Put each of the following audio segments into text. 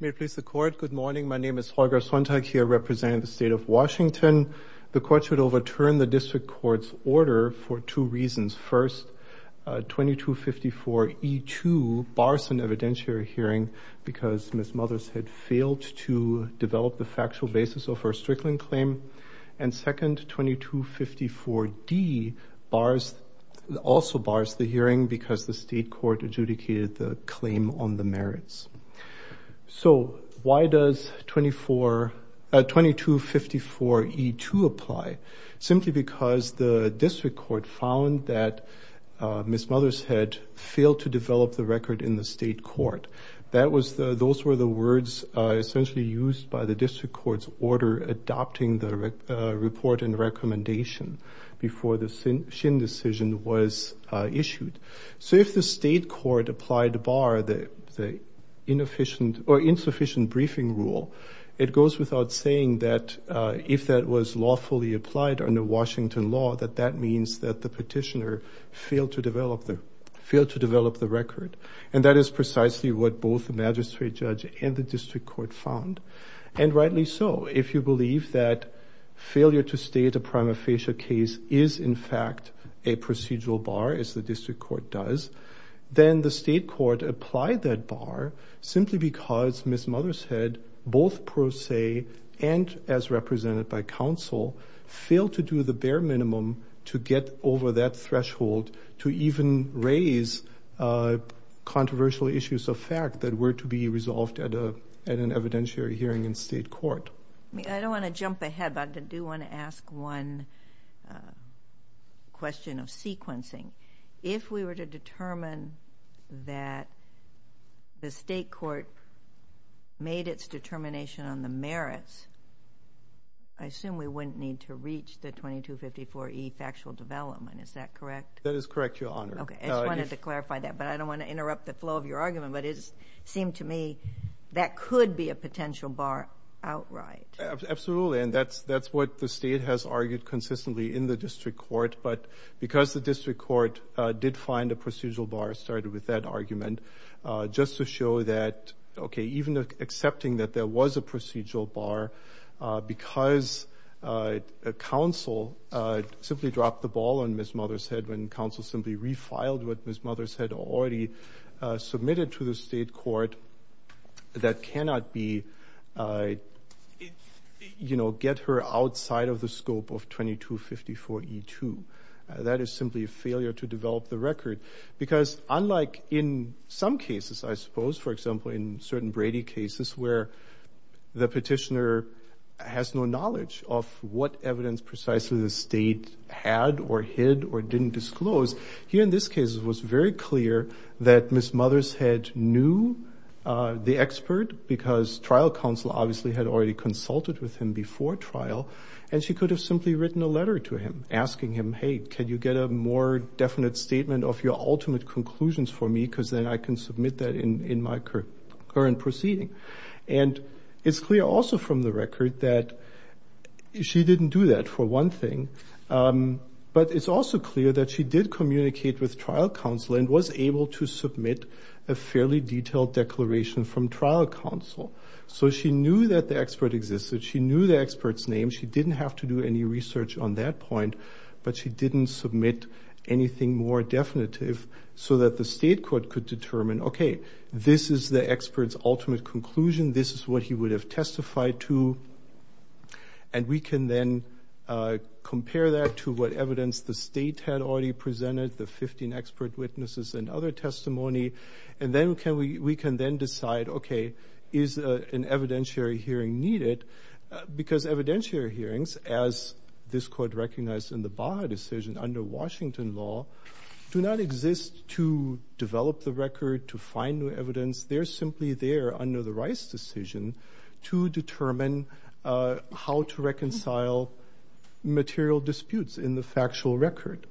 May it please the court. Good morning, my name is Holger Sonntag here representing the state of Washington. The court should overturn the district court's order for two reasons. First, 2254E2 bars an evidentiary hearing because Ms. Mothershead failed to develop the factual basis of her Strickland claim. And second, 2254D also bars the hearing because the state court adjudicated the claim on the merits. So why does 2254E2 apply? Simply because the district court found that Ms. Mothershead failed to develop the record in the state court. Those were the words essentially used by the district court's order adopting the report and recommendation before the Shin decision was issued. So if the state court applied the bar, the insufficient briefing rule, it goes without saying that if that was lawfully applied under Washington law, that that means that the petitioner failed to develop the record. And that is precisely what both the magistrate judge and the district court found. And rightly so, if you believe that failure to state a prima facie case is in fact a procedural bar as the district court does, then the state court applied that bar simply because Ms. Mothershead, both pro se and as represented by counsel, failed to do the bare minimum to get over that threshold to even raise controversial issues of fact that were to be resolved at an evidentiary hearing in state court. I don't want to jump ahead, but I do want to ask one question of sequencing. If we were to determine that the state court made its determination on the merits, I assume we wouldn't need to reach the 2254E factual development, is that correct? That is correct, Your Honor. Okay, I just wanted to clarify that, but I don't want to interrupt the flow of your argument, but it seemed to me that could be a potential bar outright. Absolutely, and that's what the state has argued consistently in the district court. But because the district court did find a procedural bar, started with that argument, just to show that, okay, even accepting that there was a procedural bar because counsel simply dropped the ball on Ms. Mothershead when counsel simply refiled what Ms. Mothershead already submitted to the state court, that cannot get her outside of the scope of 2254E2. That is simply a failure to develop the record because unlike in some cases, I suppose, for example, in certain Brady cases where the petitioner has no knowledge of what evidence precisely the state had or hid or didn't disclose, here in this case it was very clear that Ms. Mothershead knew the expert because trial counsel obviously had already consulted with him before trial, and she could have simply written a letter to him asking him, hey, can you get a more definite statement of your ultimate conclusions for me because then I can submit that in my current proceeding. And it's clear also from the record that she didn't do that for one thing, but it's also clear that she did communicate with trial counsel and was able to submit a fairly detailed declaration from trial counsel. So she knew that the expert existed, she knew the expert's name, she didn't have to do any research on that point, but she didn't submit anything more definitive so that the state court could determine, okay, this is the expert's ultimate conclusion, this is what he would have testified to, and we can then compare that to what evidence the state had already presented, the 15 expert witnesses and other testimony, and then we can then decide, okay, is an evidentiary hearing needed? Because evidentiary hearings, as this court recognized in the Baha decision under Washington law, do not exist to develop the record, to find new evidence, they're simply there under the Rice decision to determine how to reconcile material disputes in the factual record.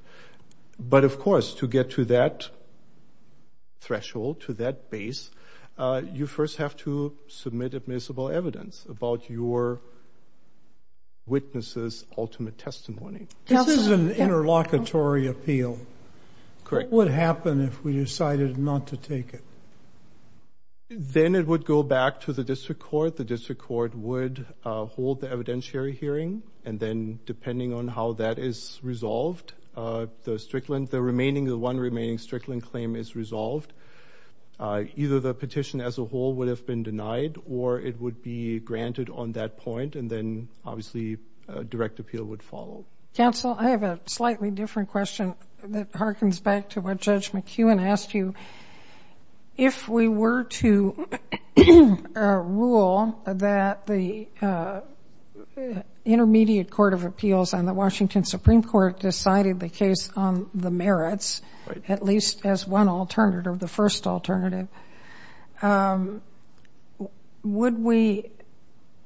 But of course, to get to that threshold, to that base, you first have to submit admissible evidence about your witness's ultimate testimony. This is an interlocutory appeal. Correct. What would happen if we decided not to take it? Then it would go back to the district court, the district court would hold the evidentiary hearing, and then depending on how that is resolved, the remaining, the one remaining Strickland claim is resolved. Either the petition as a whole would have been denied, or it would be granted on that point, and then obviously, a direct appeal would follow. Counsel, I have a slightly different question that harkens back to what Judge McEwen asked you. If we were to rule that the Intermediate Court of Appeals on the Washington Supreme Court decided the case on the merits, at least as one alternative, or the first alternative, would we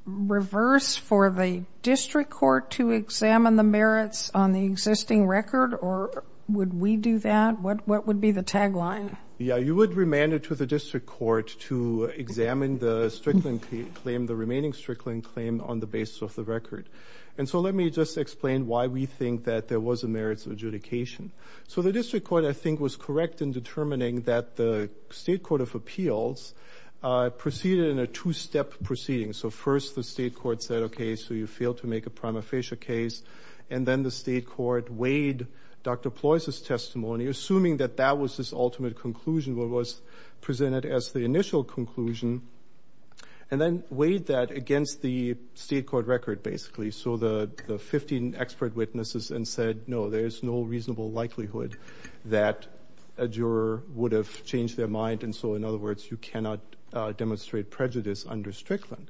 reverse for the district court to examine the merits on the existing record, or would we do that? What would be the tagline? Yeah, you would remand it to the district court to examine the Strickland claim, the remaining Strickland claim on the basis of the record. And so let me just explain why we think that there was a merits adjudication. So the district court, I think, was correct in determining that the state court of appeals proceeded in a two-step proceeding. So first, the state court said, okay, so you failed to make a prima facie case, and then the state court weighed Dr. Ploys' testimony, assuming that that was his ultimate conclusion, what was presented as the initial conclusion, and then weighed that against the state court record, basically, so the 15 expert witnesses, and said, no, there is no reasonable likelihood that a juror would have changed their mind, and so, in other words, you cannot demonstrate prejudice under Strickland.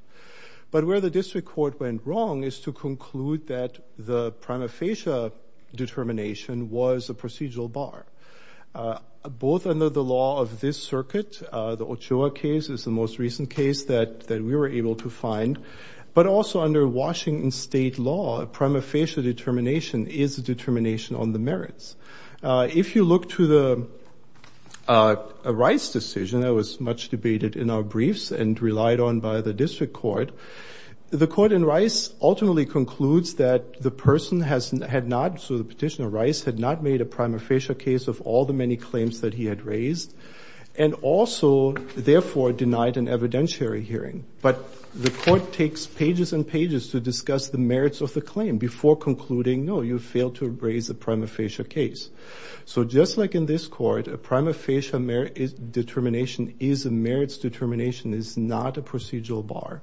But where the district court went wrong is to conclude that the prima facie determination was a procedural bar, both under the law of this circuit, the Ochoa case is the most recent case that we were able to find, but also under Washington state law, a prima facie determination is a determination on the merits. If you look to the Rice decision, that was much debated in our briefs, and relied on by the district court, the court in Rice ultimately concludes that the person had not, so the petitioner, Rice, had not made a prima facie case of all the many claims that he had raised, and also, therefore, denied an evidentiary hearing, but the court takes pages and pages to discuss the merits of the claim before concluding, no, you failed to raise a prima facie case. So, just like in this court, a prima facie determination is a merits determination, is not a procedural bar.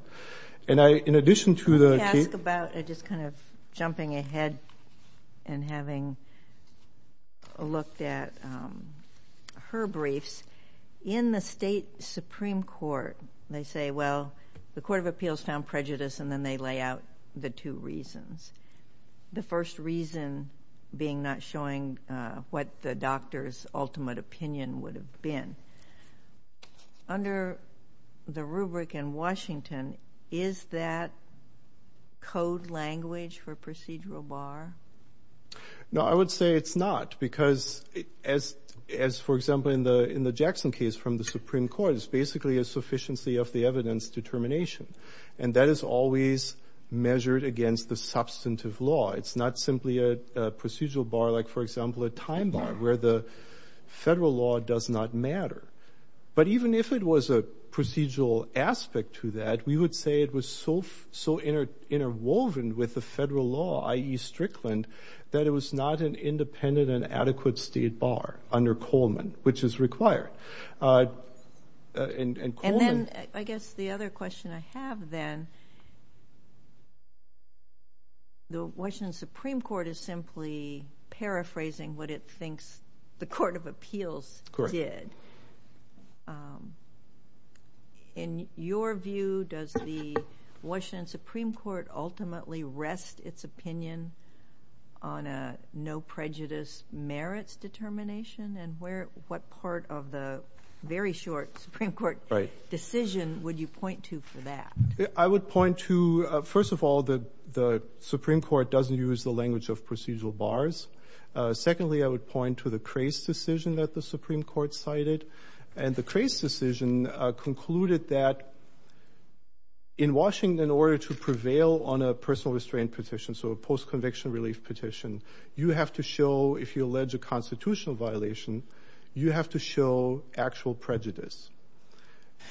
And I, in addition to the case- I'd like to ask about, just kind of jumping ahead and having looked at her briefs, in the state Supreme Court, they say, well, the Court of Appeals found prejudice, and then they lay out the two reasons. The first reason being not showing what the doctor's ultimate opinion would have been. Under the rubric in Washington, is that code language for procedural bar? No, I would say it's not, because as, for example, in the Jackson case from the Supreme Court, it's basically a sufficiency of the evidence determination, and that is always measured against the substantive law. It's not simply a procedural bar, like, for example, a time bar, where the federal law does not matter. But even if it was a procedural aspect to that, we would say it was so interwoven with the federal law, i.e. Strickland, that it was not an independent and adequate state bar under Coleman, which is required. And Coleman- have then, the Washington Supreme Court is simply paraphrasing what it thinks the Court of Appeals did. In your view, does the Washington Supreme Court ultimately rest its opinion on a no prejudice merits determination, and what part of the very short Supreme Court decision would you point to for that? I would point to, first of all, the Supreme Court doesn't use the language of procedural bars. Secondly, I would point to the Cray's decision that the Supreme Court cited, and the Cray's decision concluded that in Washington, in order to prevail on a personal restraint petition, so a post-conviction relief petition, you have to show, if you allege a constitutional violation, you have to show actual prejudice.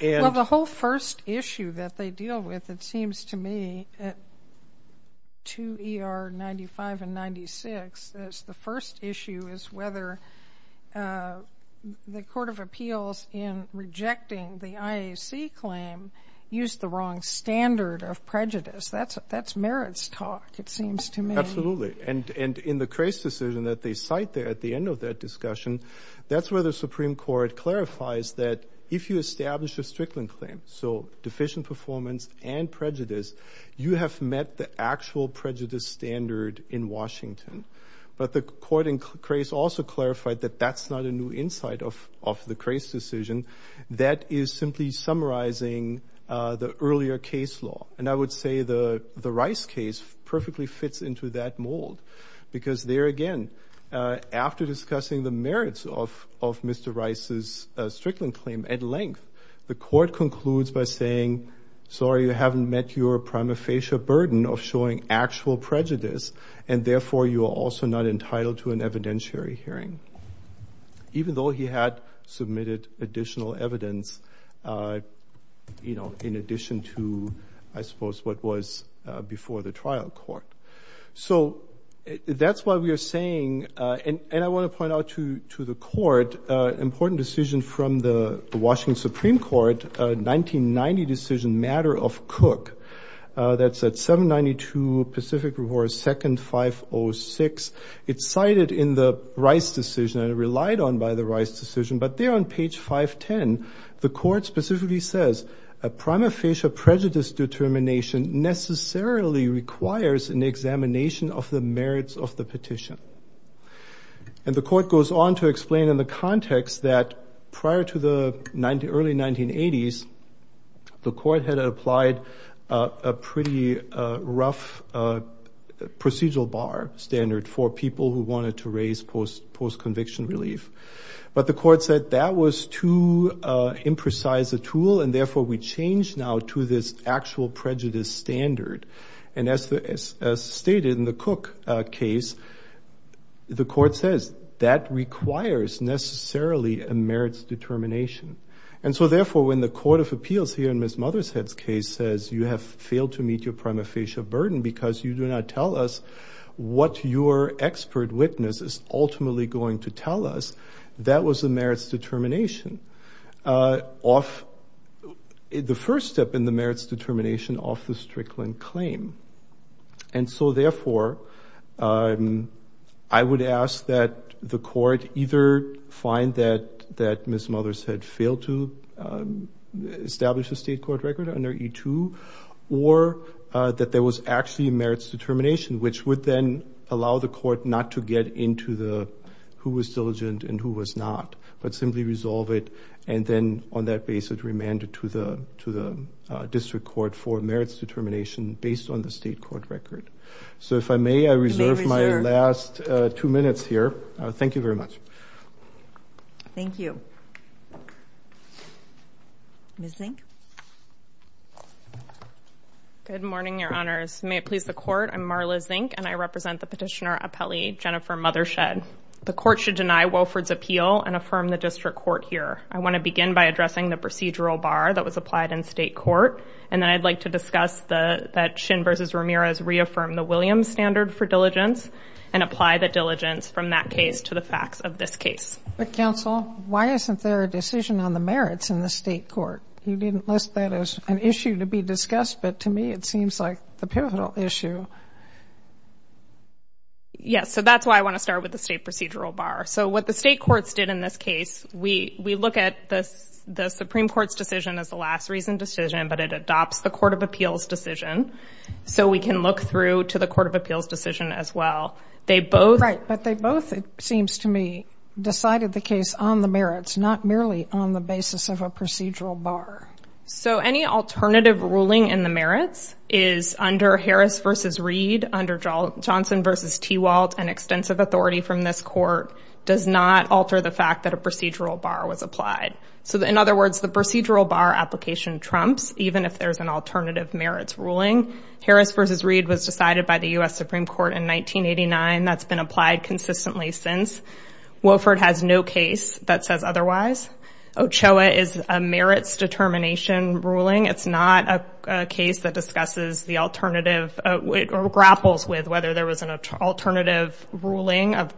And- Well, the whole first issue that they deal with, it seems to me, to ER 95 and 96, is the first issue is whether the Court of Appeals in rejecting the IAC claim used the wrong standard of prejudice. That's merits talk, it seems to me. Absolutely. And in the Cray's decision that they cite there at the end of that discussion, that's where the Supreme Court clarifies that if you establish a Strickland claim, so deficient performance and prejudice, you have met the actual prejudice standard in Washington. But the court in Cray's also clarified that that's not a new insight of the Cray's decision. That is simply summarizing the earlier case law. And I would say the Rice case perfectly fits into that mold. Because there again, after discussing the merits of Mr. Rice's Strickland claim at length, the court concludes by saying, sorry, you haven't met your prima facie burden of showing actual prejudice, and therefore you are also not entitled to an evidentiary hearing. Even though he had submitted additional evidence, in addition to, I suppose, what was before the trial court. So that's why we are saying, and I want to point out to the court, important decision from the Washington Supreme Court, 1990 decision matter of Cook. That's at 792 Pacific Revoir, second 506. It's cited in the Rice decision, and relied on by the Rice decision. But there on page 510, the court specifically says, a prima facie prejudice determination necessarily requires an examination of the merits of the petition. And the court goes on to explain in the context that prior to the early 1980s, the court had applied a pretty rough procedural bar standard for people who wanted to raise post-conviction relief. But the court said that was too imprecise a tool, and therefore we change now to this actual prejudice standard. And as stated in the Cook case, the court says that requires necessarily a merits determination. And so therefore, when the court of appeals here in Ms. Mothershead's case says, you have failed to meet your prima facie burden because you do not tell us what your expert witness is ultimately going to tell us, that was a merits determination of the first step in the merits determination of the Strickland claim. And so therefore, I would ask that the court either find that Ms. Mothershead failed to establish a state court record under E-2, or that there was actually a merits determination, which would then allow the court not to get into the who was diligent and who was not, but simply resolve it. And then on that basis, remand it to the district court for merits determination based on the state court record. So if I may, I reserve my last two minutes here. Thank you very much. Thank you. Ms. Zink. Good morning, your honors. May it please the court, I'm Marla Zink, and I represent the petitioner appellee, Jennifer Mothershed. The court should deny Wofford's appeal and affirm the district court here. I want to begin by addressing the procedural bar that was applied in state court. And then I'd like to discuss that Shin versus Ramirez reaffirmed the Williams standard for diligence and apply the diligence from that case to the facts of this case. But counsel, why isn't there a decision on the merits in the state court? You didn't list that as an issue to be discussed, but to me, it seems like the pivotal issue. Yes, so that's why I want to start with the state procedural bar. So what the state courts did in this case, we look at the Supreme Court's decision as the last reason decision, but it adopts the Court of Appeals decision. So we can look through to the Court of Appeals decision as well. They both- Right, but they both, it seems to me, decided the case on the merits, not merely on the basis of a procedural bar. So any alternative ruling in the merits is under Harris versus Reed, under Johnson versus Tewalt, an extensive authority from this court does not alter the fact that a procedural bar was applied. So in other words, the procedural bar application trumps, even if there's an alternative merits ruling. Harris versus Reed was decided by the U.S. Supreme Court in 1989, that's been applied consistently since. Wofford has no case that says otherwise. Ochoa is a merits determination ruling. It's not a case that discusses the alternative, or grapples with whether there was an alternative ruling of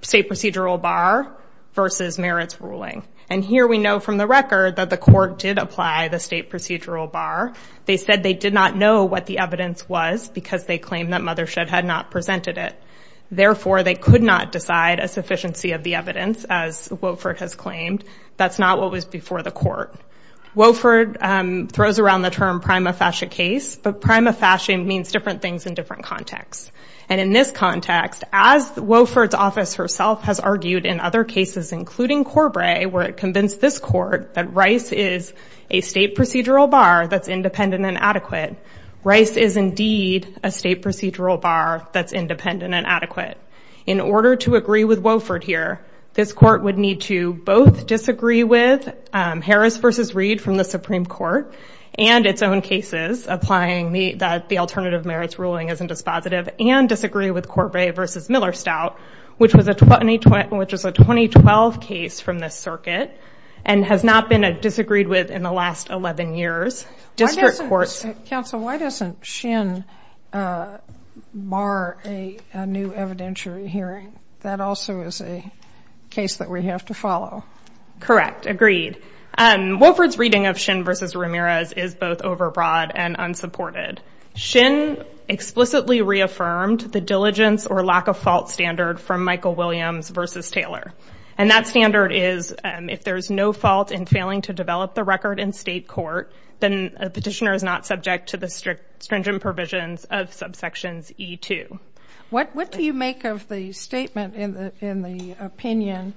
state procedural bar versus merits ruling. And here we know from the record that the court did apply the state procedural bar. They said they did not know what the evidence was because they claimed that Mothershed had not presented it. Therefore, they could not decide a sufficiency of the evidence as Wofford has claimed. That's not what was before the court. Wofford throws around the term prima facie case, but prima facie means different things in different contexts. And in this context, as Wofford's office herself has argued in other cases, including Corbray, where it convinced this court that Rice is a state procedural bar that's independent and adequate. Rice is indeed a state procedural bar that's independent and adequate. In order to agree with Wofford here, this court would need to both disagree with Harris versus Reed from the Supreme Court and its own cases, applying the alternative merits ruling as a dispositive and disagree with Corbray versus Miller-Stout, which was a 2012 case from this circuit and has not been disagreed with in the last 11 years. District courts- Council, why doesn't Shin bar a new evidentiary hearing? That also is a case that we have to follow. Correct, agreed. Wofford's reading of Shin versus Ramirez is both overbroad and unsupported. Shin explicitly reaffirmed the diligence or lack of fault standard from Michael Williams versus Taylor. And that standard is if there's no fault in failing to develop the record in state court, then a petitioner is not subject to the stringent provisions of subsections E2. What do you make of the statement in the opinion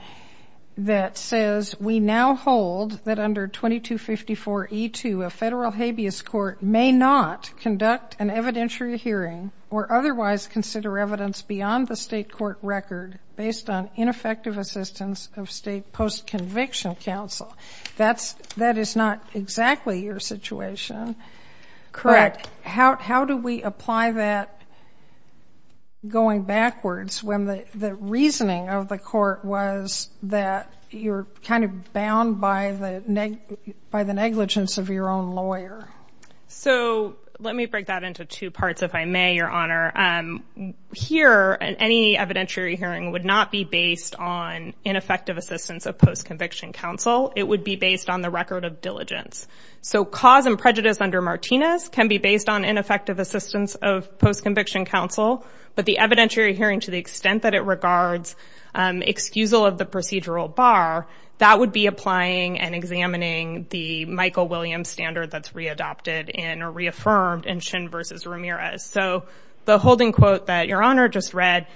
that says, we now hold that under 2254 E2, a federal habeas court may not conduct an evidentiary hearing or otherwise consider evidence beyond the state court record based on ineffective assistance of state post-conviction counsel. That is not exactly your situation. Correct. How do we apply that going backwards when the reasoning of the court was that you're kind of bound by the negligence of your own lawyer? So let me break that into two parts, if I may, your honor. Here, any evidentiary hearing would not be based on ineffective assistance of post-conviction counsel. It would be based on the record of diligence. So cause and prejudice under Martinez can be based on ineffective assistance of post-conviction counsel, but the evidentiary hearing to the extent that it regards excusal of the procedural bar, that would be applying and examining the Michael Williams standard that's readopted in or reaffirmed in Shin versus Ramirez. So the holding quote that your honor just read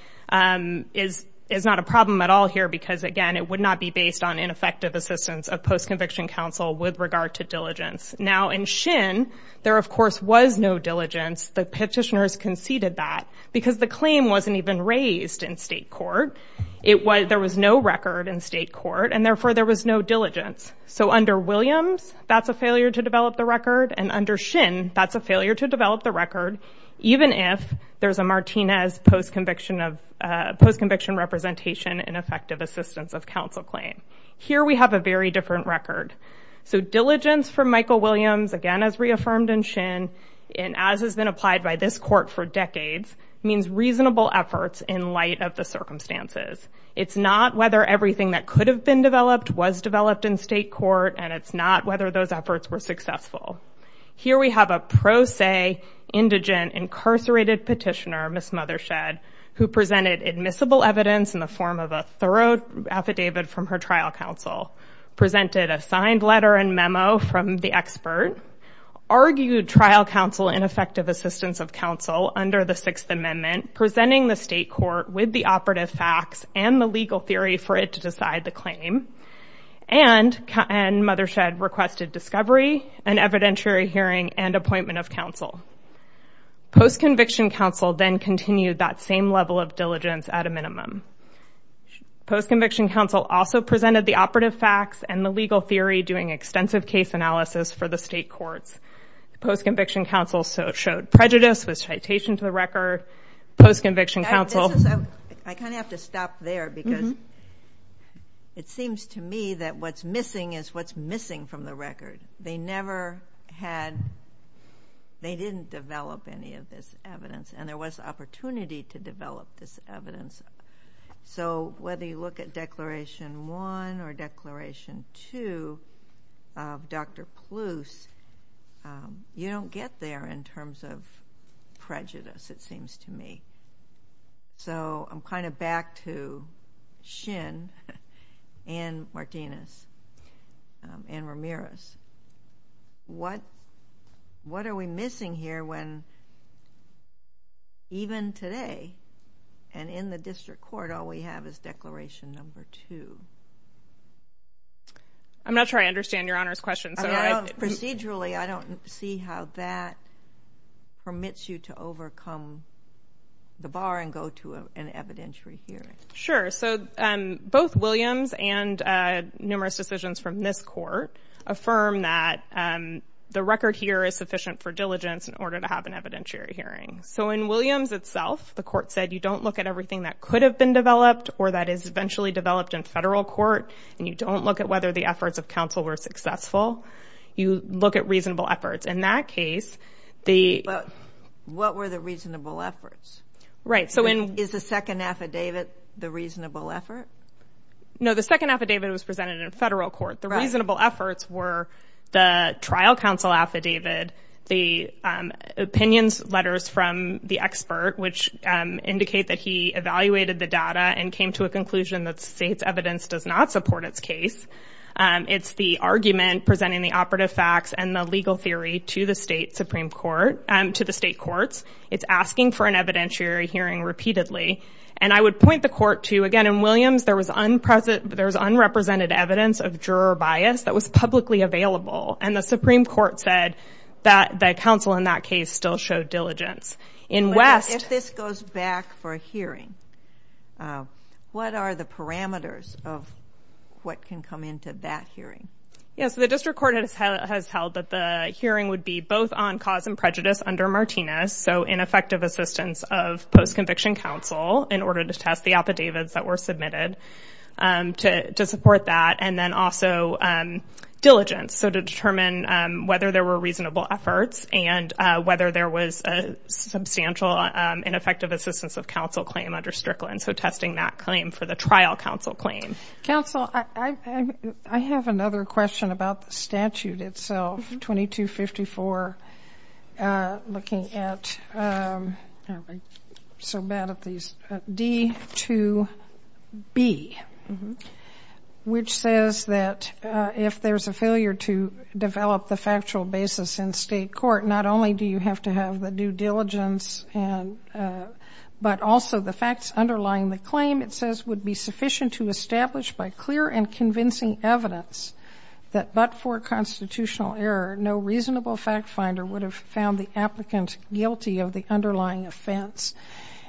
is not a problem at all here, because again, it would not be based on ineffective assistance of post-conviction counsel with regard to diligence. Now in Shin, there of course was no diligence. The petitioners conceded that because the claim wasn't even raised in state court. There was no record in state court and therefore there was no diligence. So under Williams, that's a failure to develop the record and under Shin, that's a failure to develop the record, even if there's a Martinez post-conviction representation in effective assistance of counsel claim. Here we have a very different record. So diligence for Michael Williams, again, as reaffirmed in Shin and as has been applied by this court for decades, means reasonable efforts in light of the circumstances. It's not whether everything that could have been developed was developed in state court and it's not whether those efforts were successful. Here we have a pro se, indigent, incarcerated petitioner, Ms. Mothershed, who presented admissible evidence in the form of a thorough affidavit from her trial counsel, presented a signed letter and memo from the expert, argued trial counsel ineffective assistance of counsel under the Sixth Amendment, presenting the state court with the operative facts and the legal theory for it to decide the claim and Mothershed requested discovery, an evidentiary hearing and appointment of counsel. Post-conviction counsel then continued that same level of diligence at a minimum. Post-conviction counsel also presented the operative facts and the legal theory doing extensive case analysis for the state courts. Post-conviction counsel showed prejudice with citation to the record. Post-conviction counsel. I kind of have to stop there because it seems to me that what's missing is what's missing from the record. They never had, they didn't develop any of this evidence and there was opportunity to develop this evidence. So whether you look at Declaration One or Declaration Two, of Dr. Palouse, you don't get there in terms of prejudice, it seems to me. So I'm kind of back to Shin and Martinez and Ramirez. What are we missing here when even today and in the district court, all we have is Declaration Number Two? I'm not sure I understand Your Honor's question. Procedurally, I don't see how that permits you to overcome the bar and go to an evidentiary hearing. Sure, so both Williams and numerous decisions from this court affirm that the record here is sufficient for diligence in order to have an evidentiary hearing. So in Williams itself, the court said, you don't look at everything that could have been developed or that is eventually developed in federal court and you don't look at whether the efforts of counsel were successful, you look at reasonable efforts. In that case, the- What were the reasonable efforts? Right, so in- Is the second affidavit the reasonable effort? No, the second affidavit was presented in federal court. The reasonable efforts were the trial counsel affidavit, the opinions letters from the expert, which indicate that he evaluated the data and came to a conclusion that state's evidence does not support its case. It's the argument presenting the operative facts and the legal theory to the state Supreme Court, to the state courts. It's asking for an evidentiary hearing repeatedly. And I would point the court to, again, in Williams, there was unrepresented evidence of juror bias that was publicly available. And the Supreme Court said that the counsel in that case still showed diligence. In West- What are the parameters of what can come into that hearing? Yes, the district court has held that the hearing would be both on cause and prejudice under Martinez. So ineffective assistance of post-conviction counsel in order to test the affidavits that were submitted to support that. And then also diligence. So to determine whether there were reasonable efforts and whether there was a substantial ineffective assistance of counsel claim under Strickland. And so testing that claim for the trial counsel claim. Counsel, I have another question about the statute itself, 2254, looking at, so bad at these, D2B, which says that if there's a failure to develop the factual basis in state court, not only do you have to have the due diligence, and, but also the facts underlying the claim, it says would be sufficient to establish by clear and convincing evidence that but for constitutional error, no reasonable fact finder would have found the applicant guilty of the underlying offense.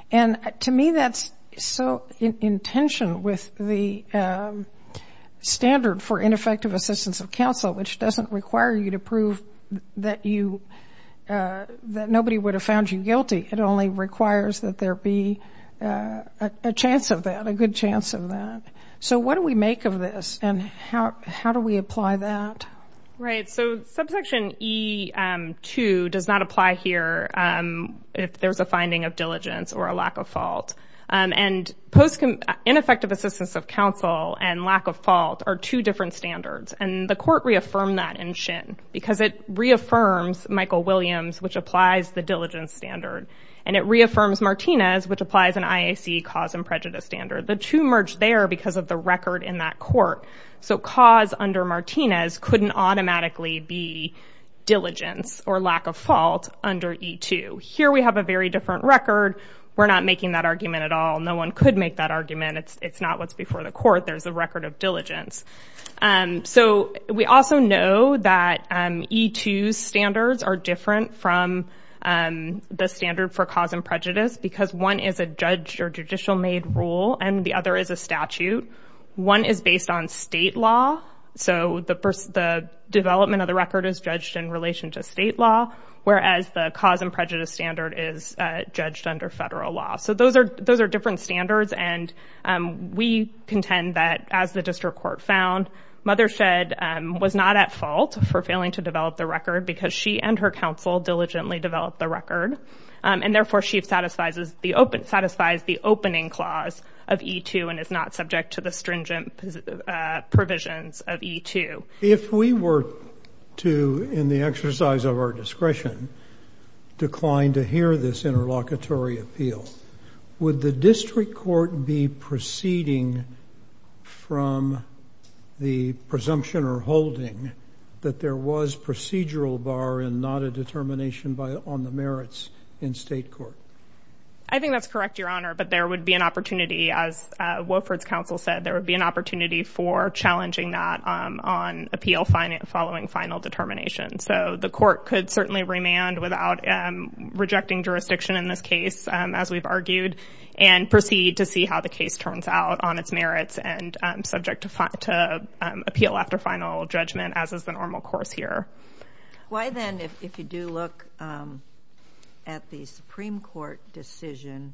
And to me, that's so in tension with the standard for ineffective assistance of counsel, which doesn't require you to prove that you, that nobody would have found you guilty. It only requires that there be a chance of that, a good chance of that. So what do we make of this? And how do we apply that? Right, so subsection E2 does not apply here if there's a finding of diligence or a lack of fault. And post ineffective assistance of counsel and lack of fault are two different standards. And the court reaffirmed that in Shin, because it reaffirms Michael Williams, which applies the diligence standard. And it reaffirms Martinez, which applies an IAC cause and prejudice standard. The two merge there because of the record in that court. So cause under Martinez couldn't automatically be diligence or lack of fault under E2. Here we have a very different record. We're not making that argument at all. No one could make that argument. It's not what's before the court. There's a record of diligence. So we also know that E2 standards are different from the standard for cause and prejudice because one is a judge or judicial made rule and the other is a statute. One is based on state law. So the development of the record is judged in relation to state law, whereas the cause and prejudice standard is judged under federal law. So those are different standards. And we contend that as the district court found, Mothershed was not at fault for failing to develop the record because she and her counsel diligently developed the record. And therefore she satisfies the opening clause of E2 and is not subject to the stringent provisions of E2. If we were to, in the exercise of our discretion, decline to hear this interlocutory appeal, would the district court be proceeding from the presumption or holding that there was procedural bar and not a determination on the merits in state court? I think that's correct, Your Honor, but there would be an opportunity, as Wofford's counsel said, there would be an opportunity for challenging that on appeal following final determination. So the court could certainly remand without rejecting jurisdiction in this case, as we've argued, and proceed to see how the case turns out on its merits and subject to appeal after final judgment as is the normal course here. Why then, if you do look at the Supreme Court decision,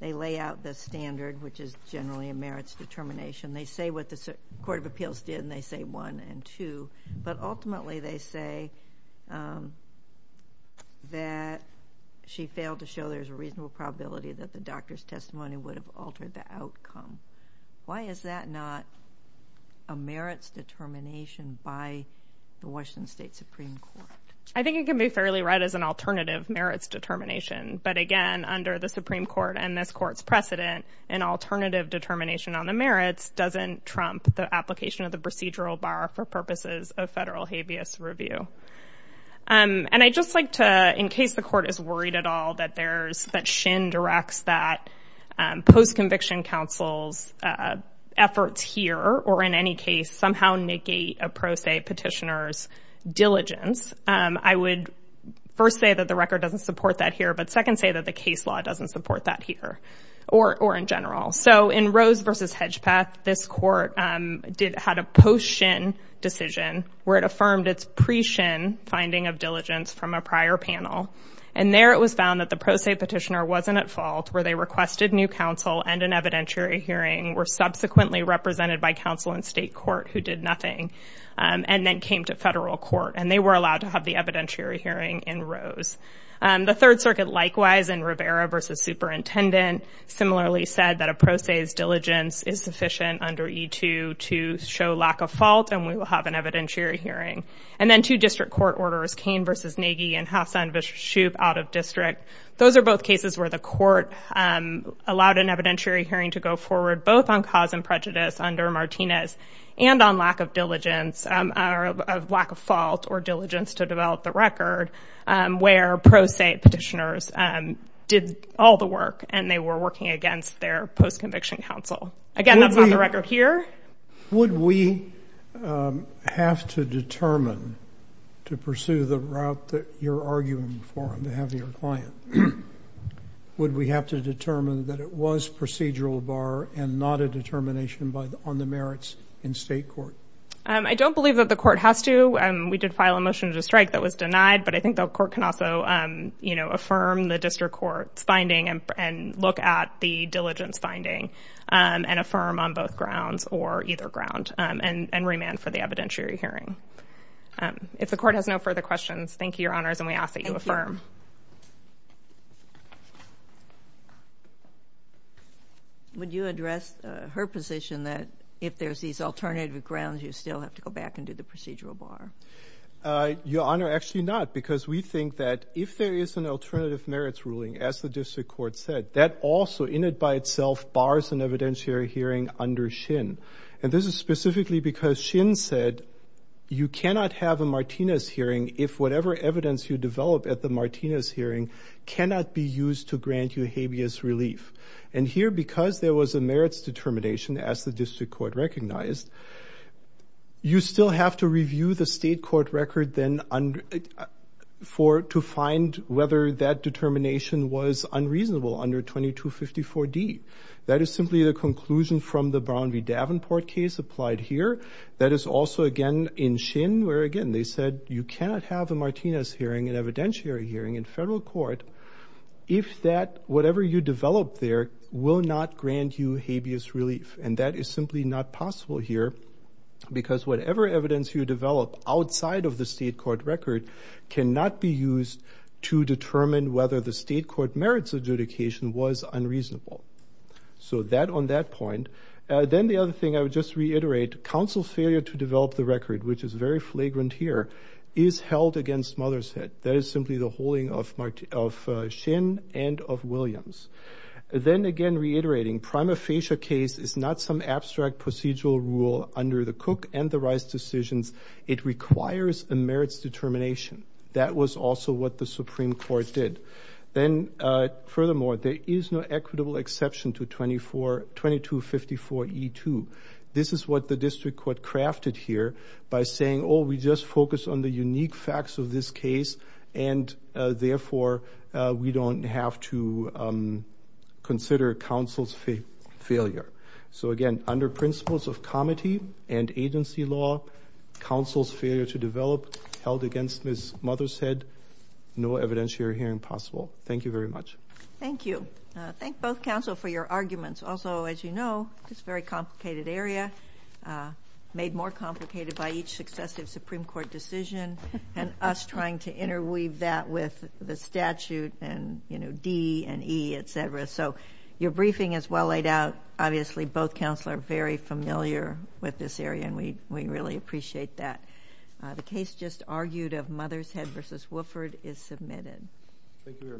they lay out the standard, which is generally a merits determination, they say what the Court of Appeals did and they say one and two, but ultimately they say that she failed to show there's a reasonable probability that the doctor's testimony would have altered the outcome. Why is that not a merits determination by the Washington State Supreme Court? I think you can be fairly right as an alternative merits determination, but again, under the Supreme Court and this court's precedent, an alternative determination on the merits doesn't trump the application of the procedural bar for purposes of federal habeas review. And I just like to, in case the court is worried at all that there's that Shin directs that post-conviction counsel's efforts here, or in any case, somehow negate a pro se petitioner's diligence, I would first say that the record doesn't support that here, but second say that the case law doesn't support that here or in general. So in Rose versus Hedgepeth, this court had a post-Shin decision where it affirmed its pre-Shin finding of diligence from a prior panel. And there it was found that the pro se petitioner wasn't at fault where they requested new counsel and an evidentiary hearing were subsequently represented by counsel in state court who did nothing and then came to federal court and they were allowed to have the evidentiary hearing in Rose. The third circuit likewise in Rivera versus superintendent similarly said that a pro se's diligence is sufficient under E2 to show lack of fault and we will have an evidentiary hearing. And then two district court orders, Kane versus Nagy and Hassan versus Shoup out of district. Those are both cases where the court allowed an evidentiary hearing to go forward, both on cause and prejudice under Martinez and on lack of diligence or lack of fault or diligence to develop the record where pro se petitioners did all the work and they were working against their post conviction counsel. Again, that's not the record here. Would we have to determine to pursue the route that you're arguing for on behalf of your client? Would we have to determine that it was procedural bar and not a determination on the merits in state court? I don't believe that the court has to. We did file a motion to strike that was denied but I think the court can also affirm the district court's finding and look at the diligence finding and affirm on both grounds or either ground and remand for the evidentiary hearing. If the court has no further questions, thank you, your honors, and we ask that you affirm. Would you address her position that if there's these alternative grounds, you still have to go back and do the procedural bar? Your honor, actually not because we think that if there is an alternative merits ruling, as the district court said, that also in it by itself bars an evidentiary hearing under Shin. And this is specifically because Shin said, you cannot have a Martinez hearing if whatever evidence you develop at the Martinez hearing cannot be used to grant you habeas relief. And here, because there was a merits determination as the district court recognized, you still have to review the state court record to find whether that determination was unreasonable under 2254D. That is simply the conclusion from the Brown v. Davenport case applied here. That is also again in Shin, where again, they said you cannot have a Martinez hearing, an evidentiary hearing in federal court if that whatever you develop there will not grant you habeas relief. And that is simply not possible here because whatever evidence you develop outside of the state court record cannot be used to determine whether the state court merits adjudication was unreasonable. So that on that point, then the other thing I would just reiterate, counsel failure to develop the record, which is very flagrant here, is held against Mothershead. That is simply the holding of Shin and of Williams. Then again, reiterating prima facie case is not some abstract procedural rule under the Cook and the Rice decisions. It requires a merits determination. That was also what the Supreme Court did. Then furthermore, there is no equitable exception to 2254E2. This is what the district court crafted here by saying, oh, we just focus on the unique facts of this case and therefore we don't have to consider counsel's failure. So again, under principles of comity and agency law, counsel's failure to develop held against Ms. Mothershead, no evidentiary hearing possible. Thank you very much. Thank you. Thank both counsel for your arguments. Also, as you know, it's a very complicated area, made more complicated by each successive Supreme Court decision and us trying to interweave that with the statute and D and E, et cetera. So your briefing is well laid out. Obviously, both counsel are very familiar with this area and we really appreciate that. The case just argued of Mothershead versus Wofford is submitted. Thank you very much.